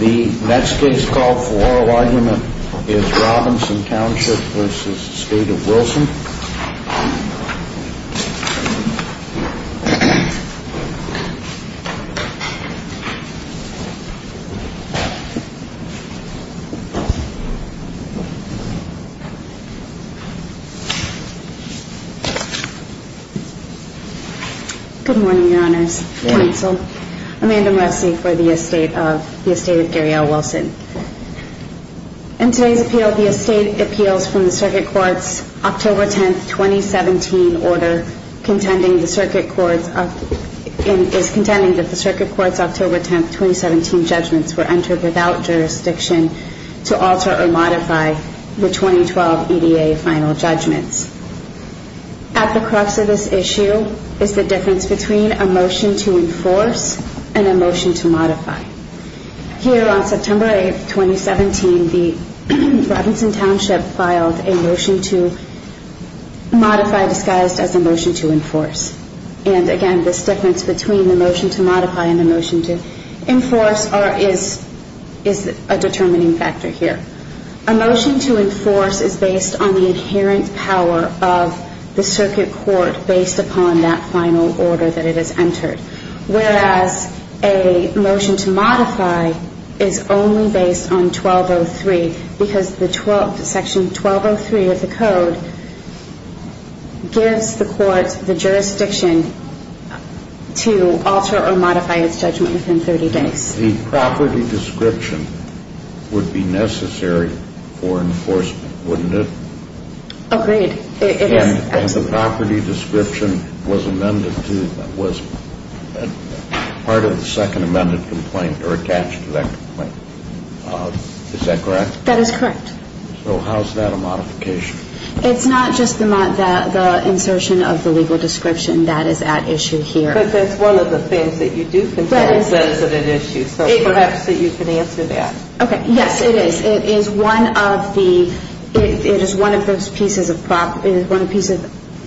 The next case called for oral argument is Robinson Township v. Estate of Wilson. Good morning, Your Honors. Counsel, Amanda Murphy for the Estate of Gary L. Wilson. In today's appeal, the Estate appeals from the Circuit Court's October 10, 2017 order, contending that the Circuit Court's October 10, 2017 judgments were entered without jurisdiction to alter or modify the 2012 EDA final judgments. At the crux of this issue is the difference between a motion to enforce and a motion to modify. Here on September 8, 2017, the Robinson Township filed a motion to modify disguised as a motion to enforce. And again, this difference between the motion to modify and the motion to enforce is a determining factor here. A motion to enforce is based on the inherent power of the Circuit Court based upon that final order that it has entered. Whereas a motion to modify is only based on 1203 because Section 1203 of the Code gives the court the jurisdiction to alter or modify its judgment within 30 days. The property description would be necessary for enforcement, wouldn't it? Agreed. It is. And the property description was amended to, was part of the second amended complaint or attached to that complaint. Is that correct? That is correct. So how is that a modification? It's not just the insertion of the legal description. That is at issue here. But that's one of the things that you do consider a sensitive issue, so perhaps that you can answer that. Okay. Yes, it is. It is one of the, it is one of those pieces of property, one piece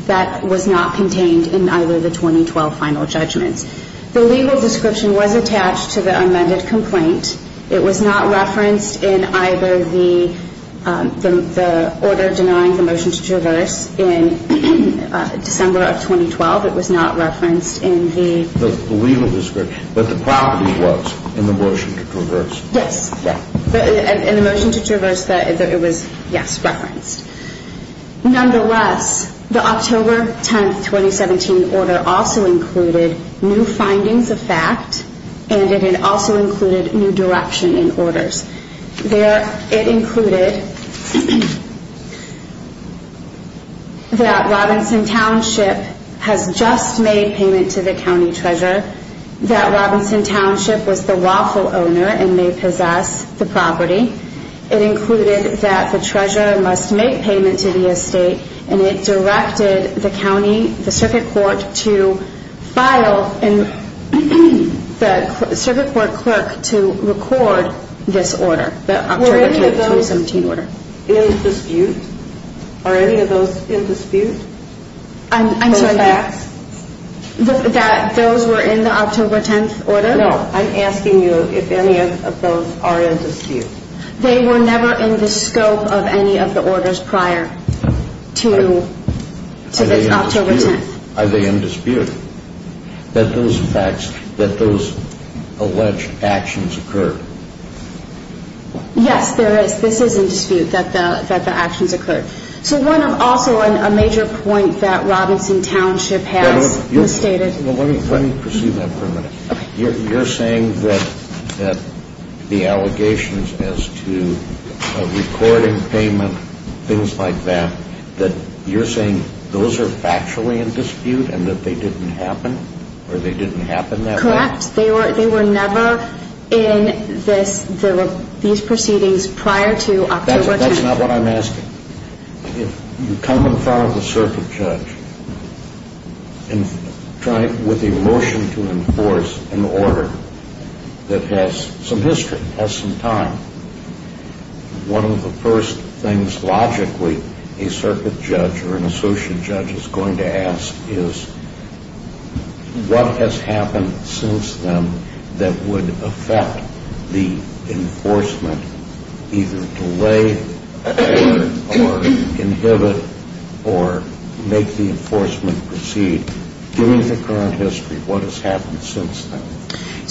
that was not contained in either of the 2012 final judgments. The legal description was attached to the amended complaint. It was not referenced in either the order denying the motion to traverse in December of 2012. It was not referenced in the... The legal description, but the property was in the motion to traverse. Yes. In the motion to traverse, it was, yes, referenced. Nonetheless, the October 10, 2017 order also included new findings of fact, and it had also included new direction in orders. There, it included that Robinson Township has just made payment to the county treasurer, that Robinson Township was the lawful owner and may possess the property. It included that the treasurer must make payment to the estate, and it directed the county, the circuit court to file, and the circuit court clerk to record this order, the October 10, 2017 order. Were any of those in dispute? Are any of those in dispute? I'm sorry. That those were in the October 10 order? No. I'm asking you if any of those are in dispute. They were never in the scope of any of the orders prior to this October 10. Are they in dispute that those facts, that those alleged actions occurred? Yes, there is. This is in dispute that the actions occurred. So one, also, a major point that Robinson Township has misstated. Let me pursue that for a minute. You're saying that the allegations as to a recording payment, things like that, that you're saying those are factually in dispute and that they didn't happen, or they didn't happen that way? Correct. They were never in this, these proceedings prior to October 10. That's not what I'm asking. If you come in front of the circuit judge with a motion to enforce an order that has some history, has some time, one of the first things, logically, a circuit judge or an associate judge is going to ask is, what has happened since then that would affect the enforcement, either delay or inhibit or make the enforcement proceed? Given the current history, what has happened since then?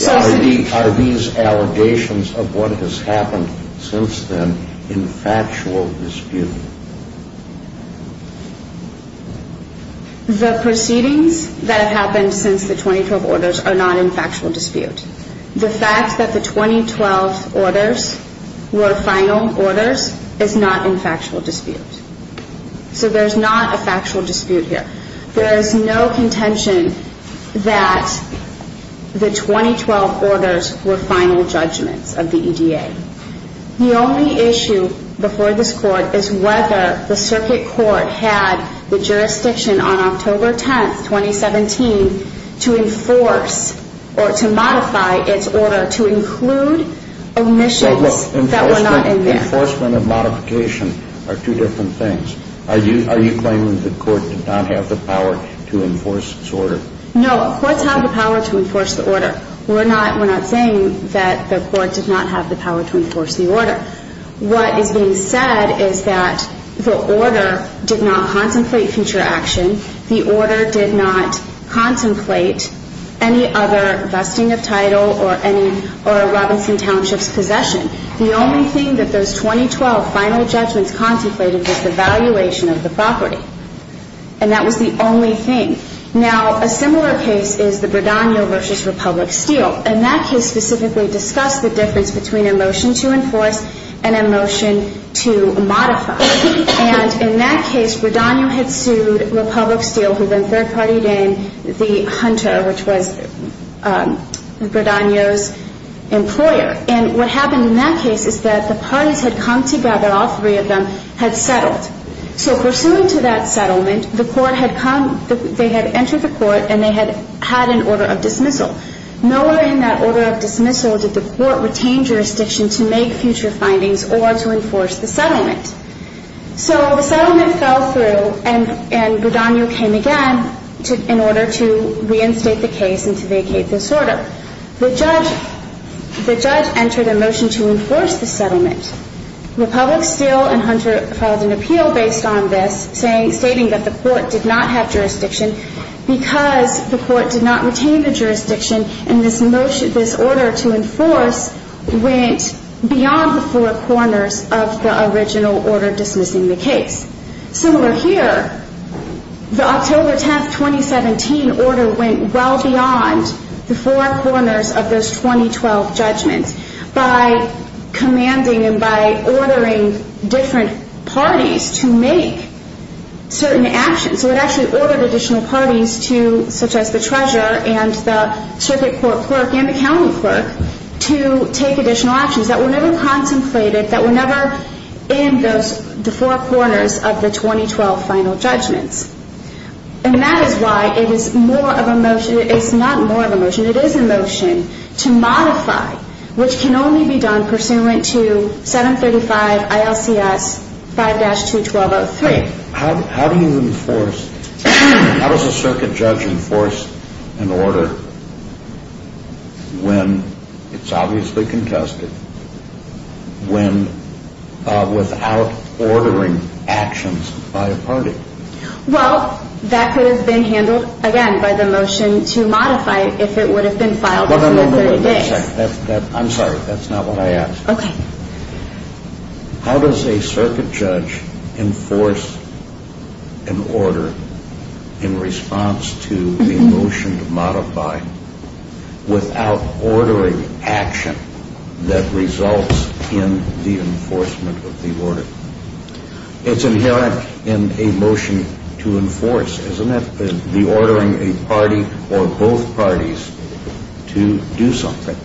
Are these allegations of what has happened since then in factual dispute? The proceedings that have happened since the 2012 orders are not in factual dispute. The fact that the 2012 orders were final orders is not in factual dispute. So there's not a factual dispute here. There is no contention that the 2012 orders were final judgments of the EDA. The only issue before this court is whether the circuit court had the jurisdiction on October 10, 2017, to enforce or to modify its order to include omissions that were not in there. Enforcement and modification are two different things. Are you claiming the court did not have the power to enforce this order? No, courts have the power to enforce the order. We're not saying that the court did not have the power to enforce the order. What is being said is that the order did not contemplate future action. The order did not contemplate any other vesting of title or a Robinson Township's possession. The only thing that those 2012 final judgments contemplated was the valuation of the property. And that was the only thing. Now, a similar case is the Bradagno versus Republic Steel. And that case specifically discussed the difference between a motion to enforce and a motion to modify. And in that case, Bradagno had sued Republic Steel, who then third-partied in the Hunter, which was Bradagno's employer. And what happened in that case is that the parties had come together. All three of them had settled. So pursuant to that settlement, they had entered the court, and they had had an order of dismissal. Nowhere in that order of dismissal did the court retain jurisdiction to make future findings or to enforce the settlement. So the settlement fell through, and Bradagno came again in order to reinstate the case and to vacate this order. The judge entered a motion to enforce the settlement. Republic Steel and Hunter filed an appeal based on this, stating that the court did not have jurisdiction because the court did not retain the jurisdiction, and this order to enforce went beyond the four corners of the original order dismissing the case. Similar here, the October 10, 2017 order went well beyond the four corners of those 2012 judgments by commanding and by ordering different parties to make certain actions. So it actually ordered additional parties to, such as the treasurer and the circuit court clerk and the county clerk, to take additional actions that were never contemplated, that were never in the four corners of the 2012 final judgments. And that is why it is more of a motion, it's not more of a motion, it is a motion to modify, which can only be done pursuant to 735 ILCS 5-212-03. How do you enforce, how does a circuit judge enforce an order when it's obviously contested, when, without ordering actions by a party? Well, that could have been handled, again, by the motion to modify if it would have been filed within 30 days. I'm sorry, that's not what I asked. Okay. How does a circuit judge enforce an order in response to the motion to modify without ordering action that results in the enforcement of the order? It's inherent in a motion to enforce, isn't it? The ordering a party or both parties to do something.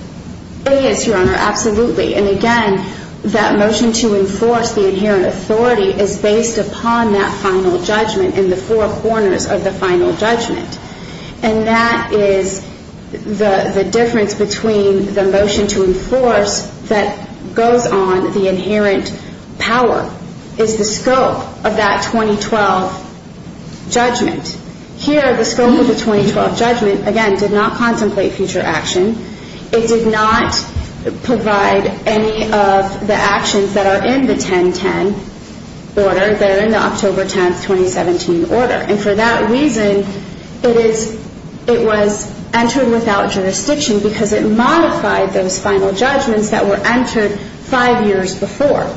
It is, Your Honor, absolutely. And again, that motion to enforce the inherent authority is based upon that final judgment and the four corners of the final judgment. And that is the difference between the motion to enforce that goes on, the inherent power, is the scope of that 2012 judgment. Here, the scope of the 2012 judgment, again, did not contemplate future action. It did not provide any of the actions that are in the 1010 order that are in the October 10th, 2017 order. And for that reason, it was entered without jurisdiction because it modified those final judgments that were entered five years before.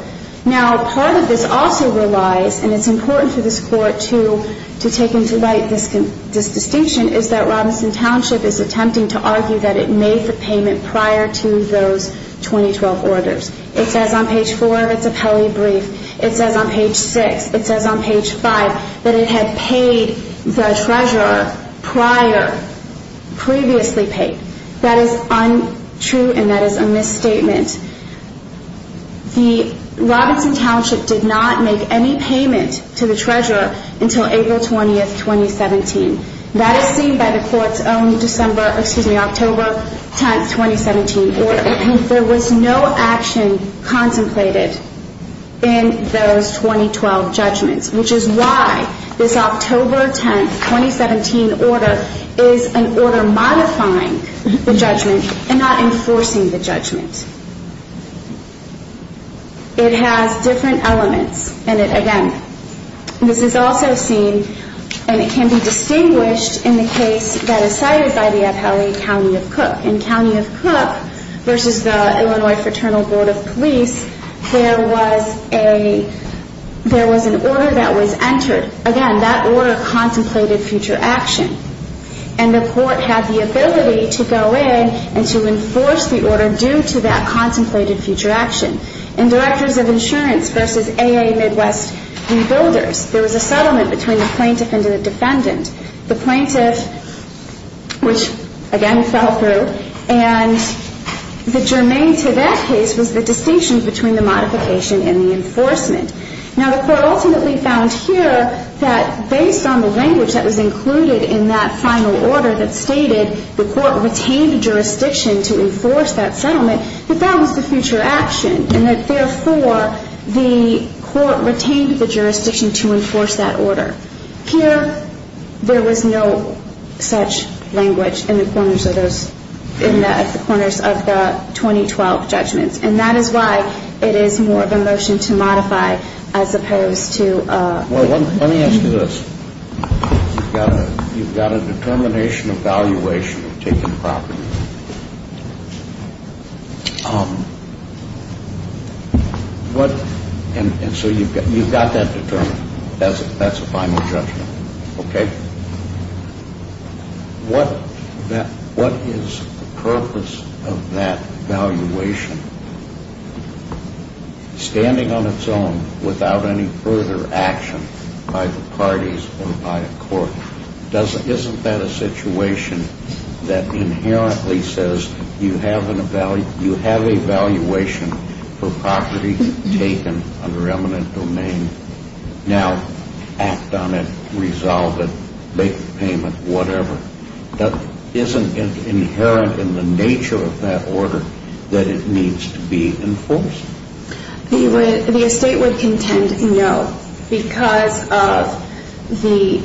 Now, part of this also relies, and it's important for this Court to take into light this distinction, is that Robinson Township is attempting to argue that it made the payment prior to those 2012 orders. It says on page four of its appellee brief. It says on page six. It says on page five that it had paid the treasurer prior, previously paid. That is untrue, and that is a misstatement. The Robinson Township did not make any payment to the treasurer until April 20th, 2017. That is seen by the Court's own October 10th, 2017 order. There was no action contemplated in those 2012 judgments, which is why this October 10th, 2017 order is an order modifying the judgment and not enforcing the judgment. It has different elements, and it, again, this is also seen, and it can be distinguished in the case that is cited by the appellee, County of Cook. In County of Cook versus the Illinois Fraternal Board of Police, there was an order that was entered. Again, that order contemplated future action, and the Court had the ability to go in and to enforce the order due to that contemplated future action. In Directors of Insurance versus AA Midwest Rebuilders, there was a settlement between the plaintiff and the defendant. The plaintiff, which, again, fell through, and the germane to that case was the distinction between the modification and the enforcement. Now, the Court ultimately found here that based on the language that was included in that final order that stated the Court retained jurisdiction to enforce that settlement, that that was the future action, and that, therefore, the Court retained the jurisdiction to enforce that order. Here, there was no such language in the corners of those, in the corners of the 2012 judgments, and that is why it is more of a motion to modify as opposed to. Well, let me ask you this. You've got a determination of valuation of taking property. And so you've got that determination. That's a final judgment. Okay. What is the purpose of that valuation? Standing on its own without any further action by the parties or by a Court, isn't that a situation that inherently says you have a valuation for property taken under eminent domain? Now, act on it, resolve it, make the payment, whatever. Isn't it inherent in the nature of that order that it needs to be enforced? The estate would contend no because of the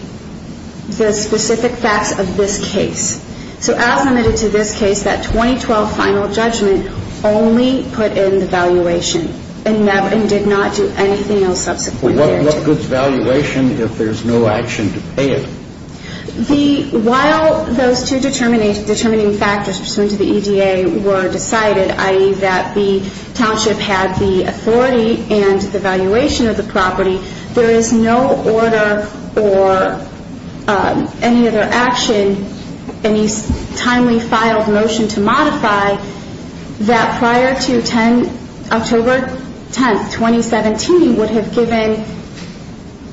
specific facts of this case. So as limited to this case, that 2012 final judgment only put in the valuation and did not do anything else subsequently. What goods valuation if there's no action to pay it? While those two determining factors pursuant to the EDA were decided, i.e., that the township had the authority and the valuation of the property, there is no order or any other action, any timely filed motion to modify, that prior to October 10th, 2017, would have given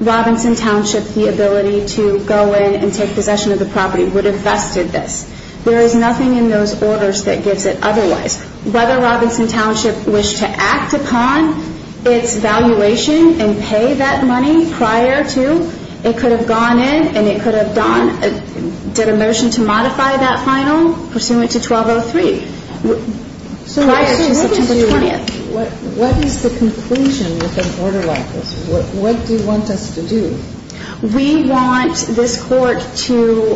Robinson Township the ability to go in and take possession of the property, would have vested this. There is nothing in those orders that gives it otherwise. Whether Robinson Township wished to act upon its valuation and pay that money prior to, it could have gone in and it could have done, did a motion to modify that final pursuant to 1203 prior to September 20th. What is the conclusion with an order like this? What do you want us to do? We want this court to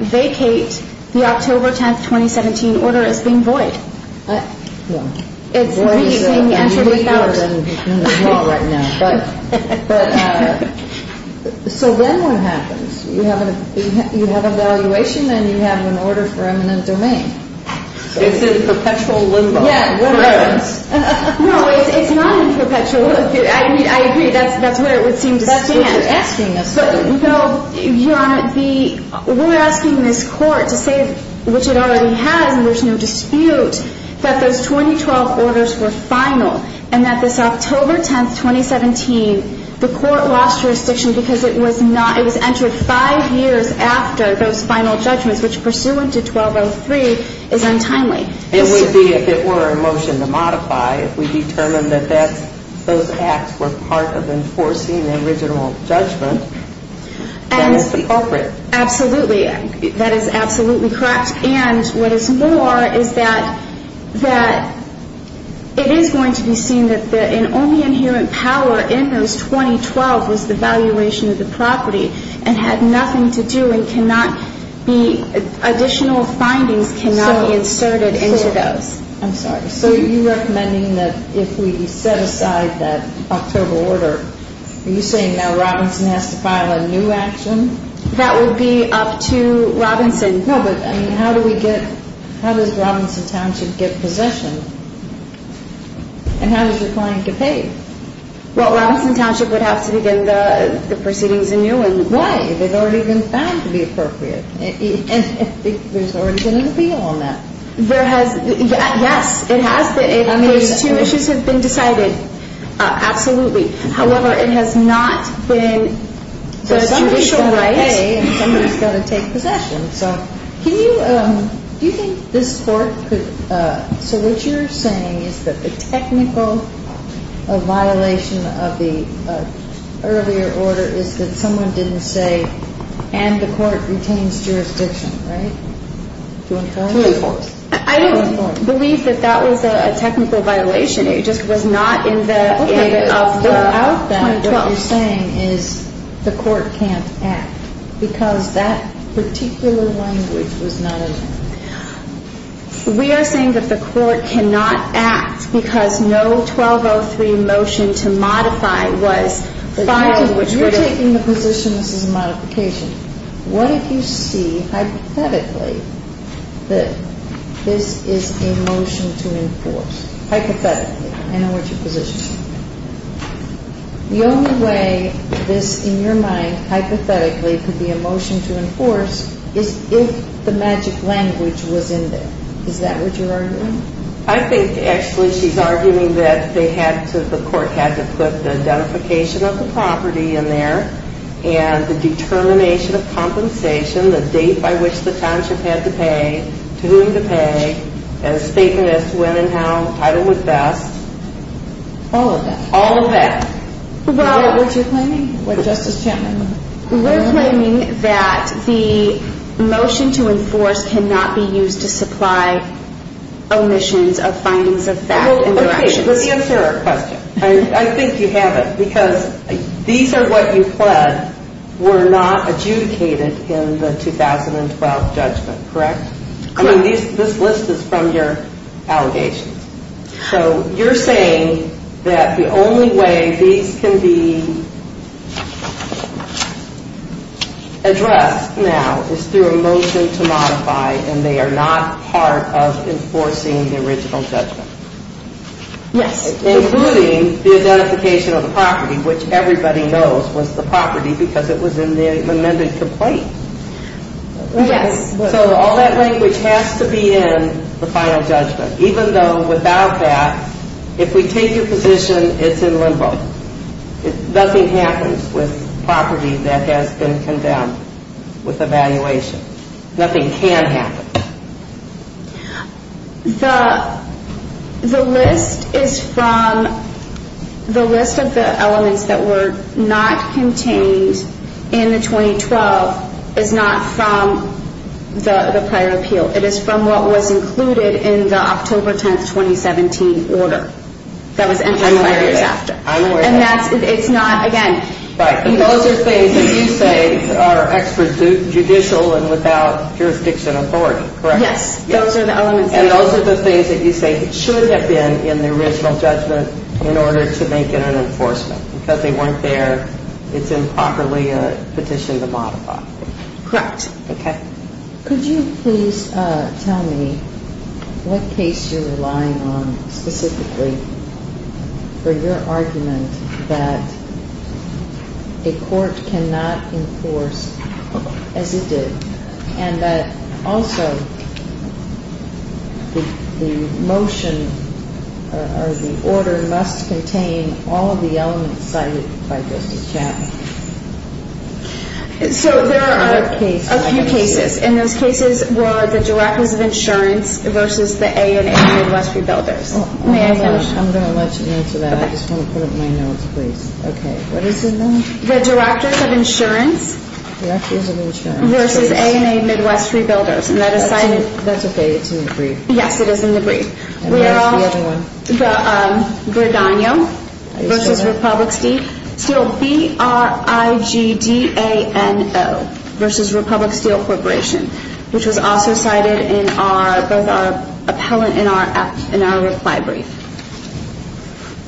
vacate the October 10th, 2017 order as being void. It's being entered without. So then what happens? You have a valuation and you have an order for eminent domain. It's in perpetual limbo. Yeah. No, it's not in perpetual limbo. I agree. That's what it would seem to stand. That's what you're asking us to do. Your Honor, we're asking this court to say, which it already has and there's no dispute, that those 2012 orders were final and that this October 10th, 2017, the court lost jurisdiction because it was entered five years after those final judgments, which pursuant to 1203 is untimely. It would be if it were a motion to modify. If we determine that those acts were part of enforcing the original judgment, then it's appropriate. Absolutely. That is absolutely correct. And what is more is that it is going to be seen that the only inherent power in those 2012 was the valuation of the property and had nothing to do and additional findings cannot be inserted into those. I'm sorry. So you're recommending that if we set aside that October order, are you saying now Robinson has to file a new action? That would be up to Robinson. No, but how does Robinson Township get possession? And how does your client get paid? Well, Robinson Township would have to begin the proceedings anew. Why? They've already been found to be appropriate. There's already been an appeal on that. Yes, it has. Those two issues have been decided. However, it has not been the judicial right. Somebody's got to pay and somebody's got to take possession. Do you think this court could – so what you're saying is that the technical violation of the earlier order is that someone didn't say, and the court retains jurisdiction, right? To enforce. To enforce. I don't believe that that was a technical violation. It just was not in the end of the 2012. What you're saying is the court can't act because that particular language was not in there. We are saying that the court cannot act because no 1203 motion to modify was filed, which would have – You're taking the position this is a modification. What if you see hypothetically that this is a motion to enforce? Hypothetically. I know what your position is. The only way this, in your mind, hypothetically could be a motion to enforce is if the magic language was in there. Is that what you're arguing? I think, actually, she's arguing that they had to – the court had to put the identification of the property in there and the determination of compensation, the date by which the township had to pay, to whom to pay, and a statement as to when and how the title would vest. All of that. All of that. Well – What's your claim? What does Justice Chandler want? We're claiming that the motion to enforce cannot be used to supply omissions of findings of theft in directions. Okay, let's answer our question. I think you have it because these are what you pled were not adjudicated in the 2012 judgment, correct? Correct. This list is from your allegations. So you're saying that the only way these can be addressed now is through a motion to modify and they are not part of enforcing the original judgment. Yes. Including the identification of the property, which everybody knows was the property because it was in the amended complaint. Yes. So all that language has to be in the final judgment, even though without that, if we take your position, it's in limbo. Nothing happens with property that has been condemned with evaluation. Nothing can happen. The list is from – the list of the elements that were not contained in the 2012 is not from the prior appeal. It is from what was included in the October 10, 2017 order that was entered five years after. I'm aware of that. And that's – it's not – again – Those are things that you say are extrajudicial and without jurisdiction authority, correct? Yes. And those are the things that you say should have been in the original judgment in order to make it an enforcement. Because they weren't there, it's improperly a petition to modify. Correct. Okay. Could you please tell me what case you're relying on specifically for your argument that a court cannot enforce as it did and that also the motion or the order must contain all of the elements cited by Justice Chappell? So there are a few cases. And those cases were the Directors of Insurance versus the A&A Midwest Rebuilders. May I finish? I'm going to let you answer that. I just want to put up my notes, please. Okay. What is in them? The Directors of Insurance. Directors of Insurance. Versus A&A Midwest Rebuilders. And that is cited – That's okay. It's in the brief. Yes, it is in the brief. And where's the other one? Verdano versus Republic Steel. Still there? Still B-R-I-G-D-A-N-O versus Republic Steel Corporation, which was also cited in both our appellant and our reply brief.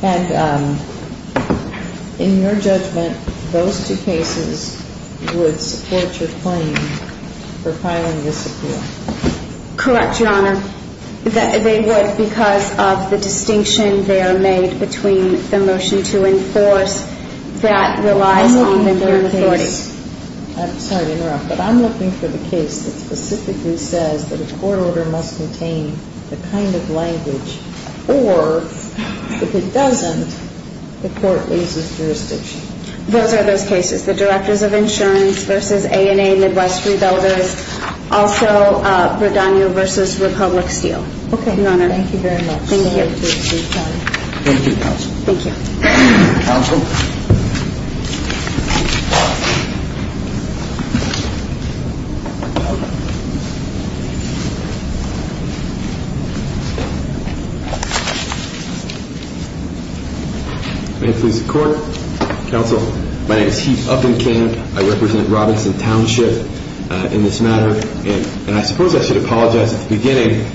And in your judgment, those two cases would support your claim for filing this appeal? Correct, Your Honor. They would because of the distinction there made between the motion to enforce that relies on the authority. I'm sorry to interrupt, but I'm looking for the case that specifically says that a court order must contain the kind of language, or if it doesn't, the court raises jurisdiction. Those are those cases. The Directors of Insurance versus A&A Midwest Rebuilders. Also, Verdano versus Republic Steel. Okay. Thank you very much. Thank you. Thank you, Counsel. Thank you. Counsel? May it please the Court. Counsel, my name is Heath Uppingham. I represent Robinson Township in this matter, and I suppose I should apologize at the beginning.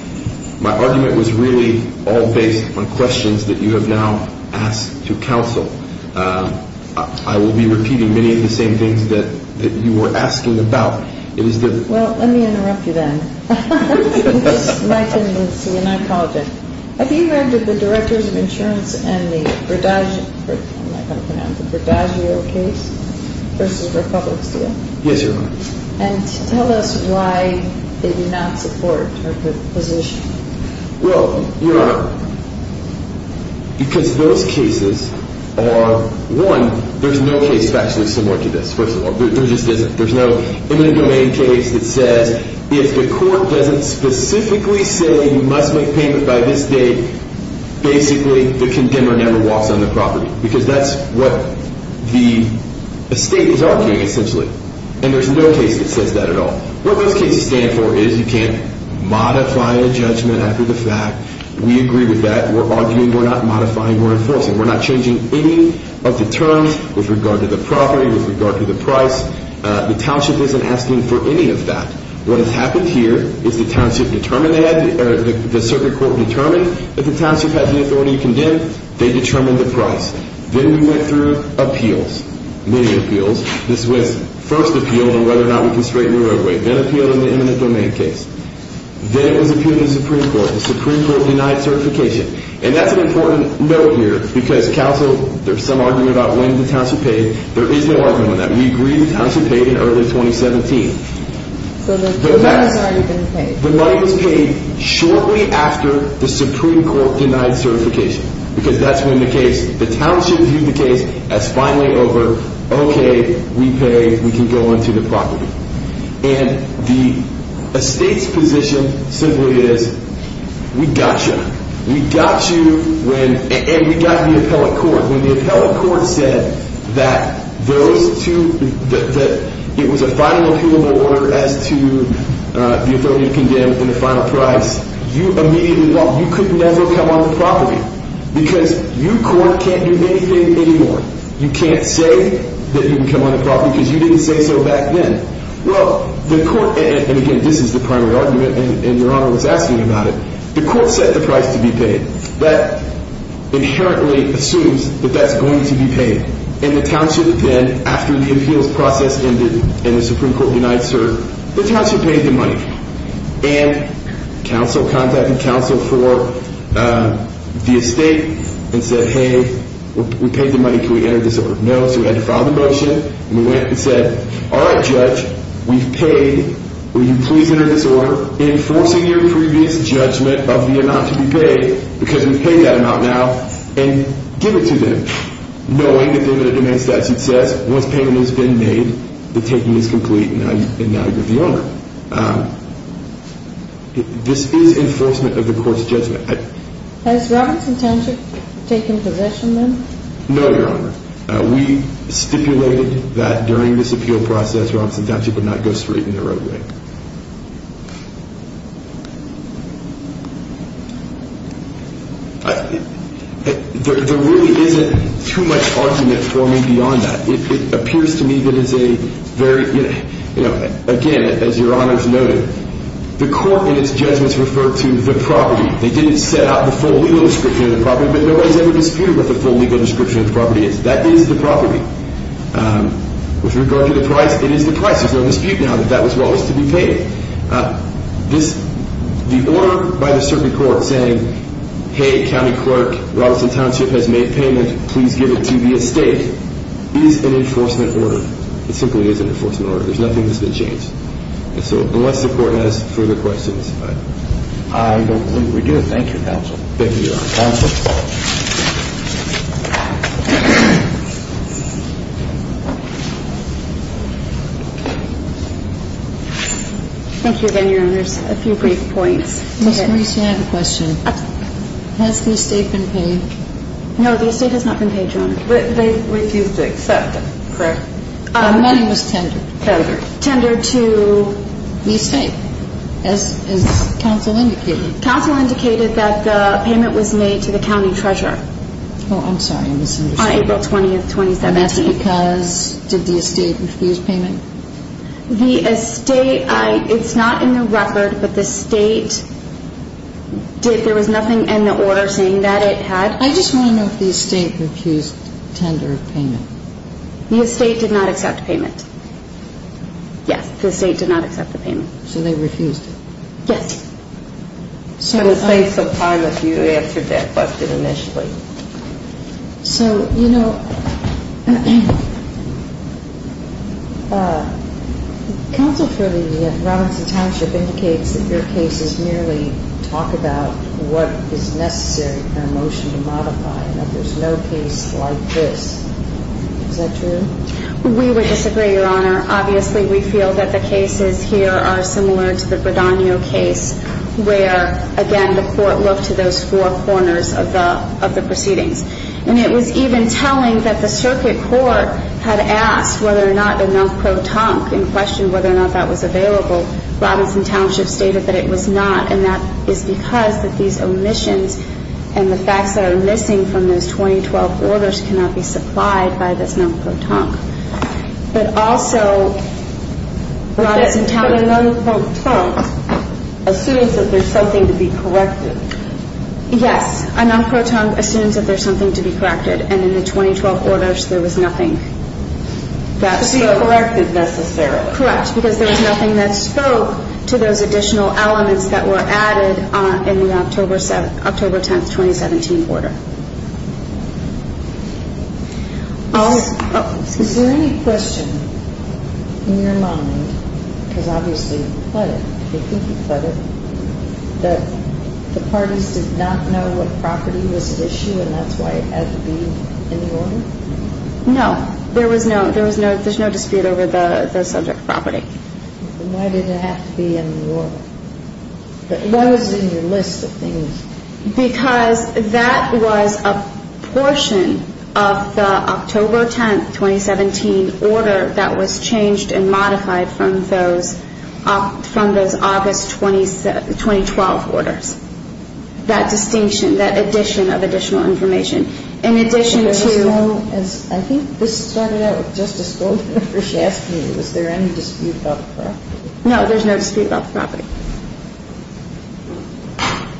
My argument was really all based on questions that you have now asked to counsel. I will be repeating many of the same things that you were asking about. Well, let me interrupt you then. It's my tendency, and I apologize. Have you heard of the Directors of Insurance and the Verdagio case versus Republic Steel? Yes, Your Honor. And tell us why they do not support her position. Well, Your Honor, because those cases are, one, there's no case factually similar to this, first of all. There just isn't. There's no eminent domain case that says if the court doesn't specifically say you must make payment by this date, basically the condemner never walks on the property, because that's what the estate is arguing, essentially. And there's no case that says that at all. What those cases stand for is you can't modify the judgment after the fact. We agree with that. We're arguing we're not modifying or enforcing. We're not changing any of the terms with regard to the property, with regard to the price. The township isn't asking for any of that. What has happened here is the township determined, or the circuit court determined, if the township had the authority to condemn, they determined the price. Then we went through appeals, many appeals. This was first appeal on whether or not we can straighten the roadway, then appeal in the eminent domain case. Then it was appealed in the Supreme Court. The Supreme Court denied certification. And that's an important note here, because counsel, there's some argument about when the township paid. There is no argument on that. We agreed the township paid in early 2017. So the money has already been paid. The money was paid shortly after the Supreme Court denied certification, because that's when the township viewed the case as finally over. Okay, we pay. We can go onto the property. And the estate's position simply is, we got you. We got you, and we got the appellate court. When the appellate court said that it was a final appealable order as to the authority to condemn and the final price, you immediately walked. You could never come on the property, because you, court, can't do anything anymore. You can't say that you can come on the property, because you didn't say so back then. Well, the court, and again, this is the primary argument, and Your Honor was asking about it. The court set the price to be paid. That inherently assumes that that's going to be paid. And the township then, after the appeals process ended and the Supreme Court denied certification, the township paid the money. And counsel contacted counsel for the estate and said, hey, we paid the money. Can we enter this order? No, so we had to file the motion. And we went and said, all right, Judge, we've paid. Will you please enter this order, enforcing your previous judgment of the amount to be paid, because we've paid that amount now, and give it to them, knowing that they're going to demand statute says, once payment has been made, the taking is complete and now you're the owner. This is enforcement of the court's judgment. Has Robinson Township taken possession then? No, Your Honor. We stipulated that during this appeal process Robinson Township would not go straight in the roadway. There really isn't too much argument for me beyond that. It appears to me that it's a very, you know, again, as Your Honor's noted, the court in its judgments referred to the property. They didn't set out the full legal description of the property, but nobody's ever disputed what the full legal description of the property is. That is the property. With regard to the price, it is the price. There's no dispute now that that was what was to be paid. The order by the circuit court saying, hey, county clerk, Robinson Township has made payment. Please give it to the estate is an enforcement order. It simply is an enforcement order. There's nothing that's been changed. So unless the court has further questions. I don't believe we do. Thank you, counsel. Thank you, Your Honor. Counsel. Thank you again, Your Honor. There's a few brief points. Ms. Maurice, I have a question. Has the estate been paid? No, the estate has not been paid, Your Honor. They refused to accept it. Correct. The money was tendered. Tendered. Tendered to? The estate, as counsel indicated. Counsel indicated that the payment was made to the county treasurer. Oh, I'm sorry, I misunderstood. On April 20th, 2017. And that's because, did the estate refuse payment? The estate, it's not in the record, but the state, there was nothing in the order saying that it had. I just want to know if the estate refused tender of payment. The estate did not accept payment. Yes, the estate did not accept the payment. So they refused it. Yes. So in the face of time, if you answered that question initially. So, you know, counsel for the Robinson Township indicates that your cases merely talk about what is necessary for a motion to modify and that there's no case like this. Is that true? We would disagree, Your Honor. Obviously, we feel that the cases here are similar to the Bradogno case where, again, the court looked to those four corners of the proceedings. And it was even telling that the circuit court had asked whether or not the non-protonque in question whether or not that was available. Robinson Township stated that it was not, and that is because these omissions and the facts that are missing from those 2012 orders cannot be supplied by this non-protonque. But also, Robinson Township. But a non-protonque assumes that there's something to be corrected. Yes, a non-protonque assumes that there's something to be corrected. And in the 2012 orders, there was nothing that spoke. To be corrected, necessarily. Correct, because there was nothing that spoke to those additional elements that were added in the October 10th, 2017 order. Is there any question in your mind, because obviously you've put it, you think you've put it, that the parties did not know what property was at issue and that's why it had to be in the order? No. There was no, there was no, there's no dispute over the subject property. Then why did it have to be in the order? But what was in your list of things? Because that was a portion of the October 10th, 2017 order that was changed and modified from those, from those August 2012 orders. That distinction, that addition of additional information. In addition to... I think this started out with Justice Goldberg. She asked me, was there any dispute about the property? No, there's no dispute about the property.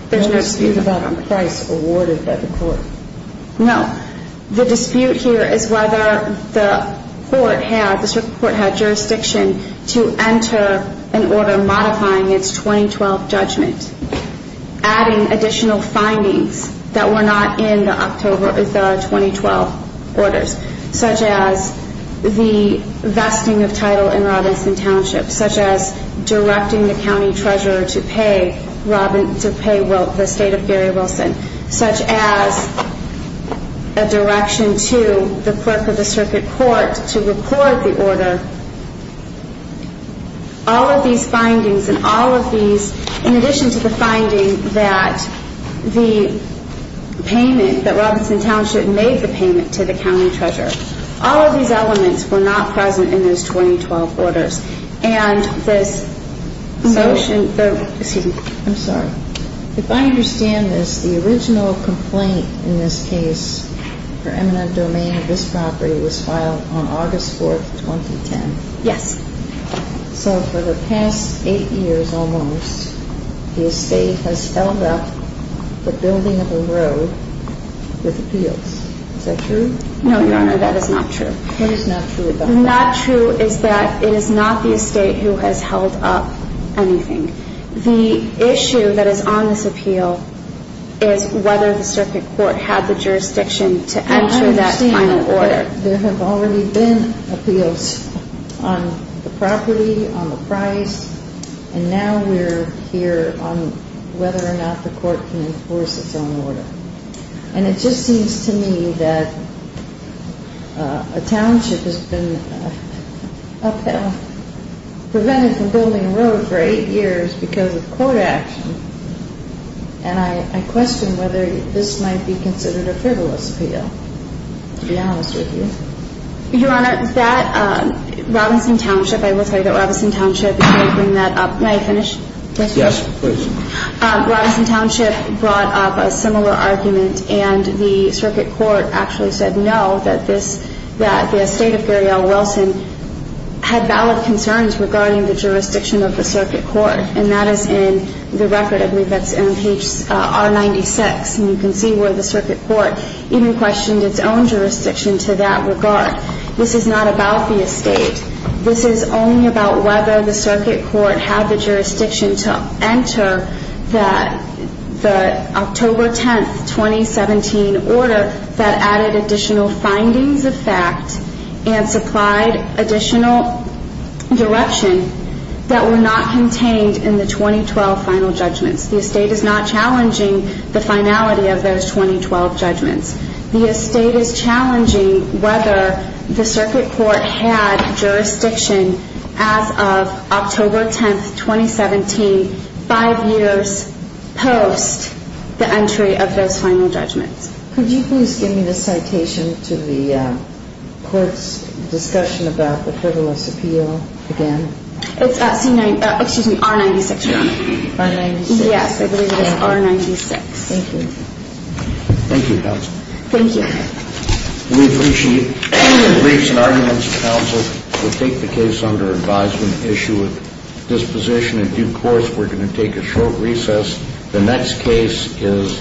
There's no dispute about the property. What dispute about a price awarded by the court? No. The dispute here is whether the court had, the district court had jurisdiction to enter an order modifying its 2012 judgment. Adding additional findings that were not in the October, the 2012 orders. Such as the vesting of title in Robinson Township. Such as directing the county treasurer to pay Robin, to pay the state of Gary Wilson. Such as a direction to the clerk of the circuit court to report the order. All of these findings and all of these, in addition to the finding that the payment, that Robinson Township made the payment to the county treasurer. All of these elements were not present in those 2012 orders. And this motion, the... Yes. So for the past eight years almost, the estate has held up the building of the road with appeals. Is that true? No, Your Honor, that is not true. What is not true about that? Not true is that it is not the estate who has held up anything. The issue that is on this appeal is whether the circuit court had the jurisdiction to enter that final order. There have already been appeals on the property, on the price. And now we're here on whether or not the court can enforce its own order. And it just seems to me that a township has been upheld, prevented from building a road for eight years because of court action. And I question whether this might be considered a frivolous appeal, to be honest with you. Your Honor, that Robinson Township, I will tell you that Robinson Township... May I finish? Yes, please. Robinson Township brought up a similar argument, and the circuit court actually said no, that the estate of Gary L. Wilson had valid concerns regarding the jurisdiction of the circuit court. And that is in the record that's on page R-96. And you can see where the circuit court even questioned its own jurisdiction to that regard. This is not about the estate. This is only about whether the circuit court had the jurisdiction to enter the October 10, 2017 order that added additional findings of fact and supplied additional direction that were not contained in the 2012 final judgments. The estate is not challenging the finality of those 2012 judgments. The estate is challenging whether the circuit court had jurisdiction as of October 10, 2017, five years post the entry of those final judgments. Could you please give me the citation to the court's discussion about the frivolous appeal again? It's R-96, Your Honor. R-96? Yes, I believe it is R-96. Thank you. Thank you, counsel. Thank you. We appreciate briefs and arguments. Counsel, we'll take the case under advisement, issue with disposition. In due course, we're going to take a short recess. The next case is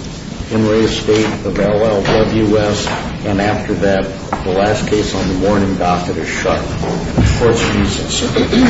Henry Estate of L.L.W. West, and after that, the last case on the morning docket is shut. Court's recess.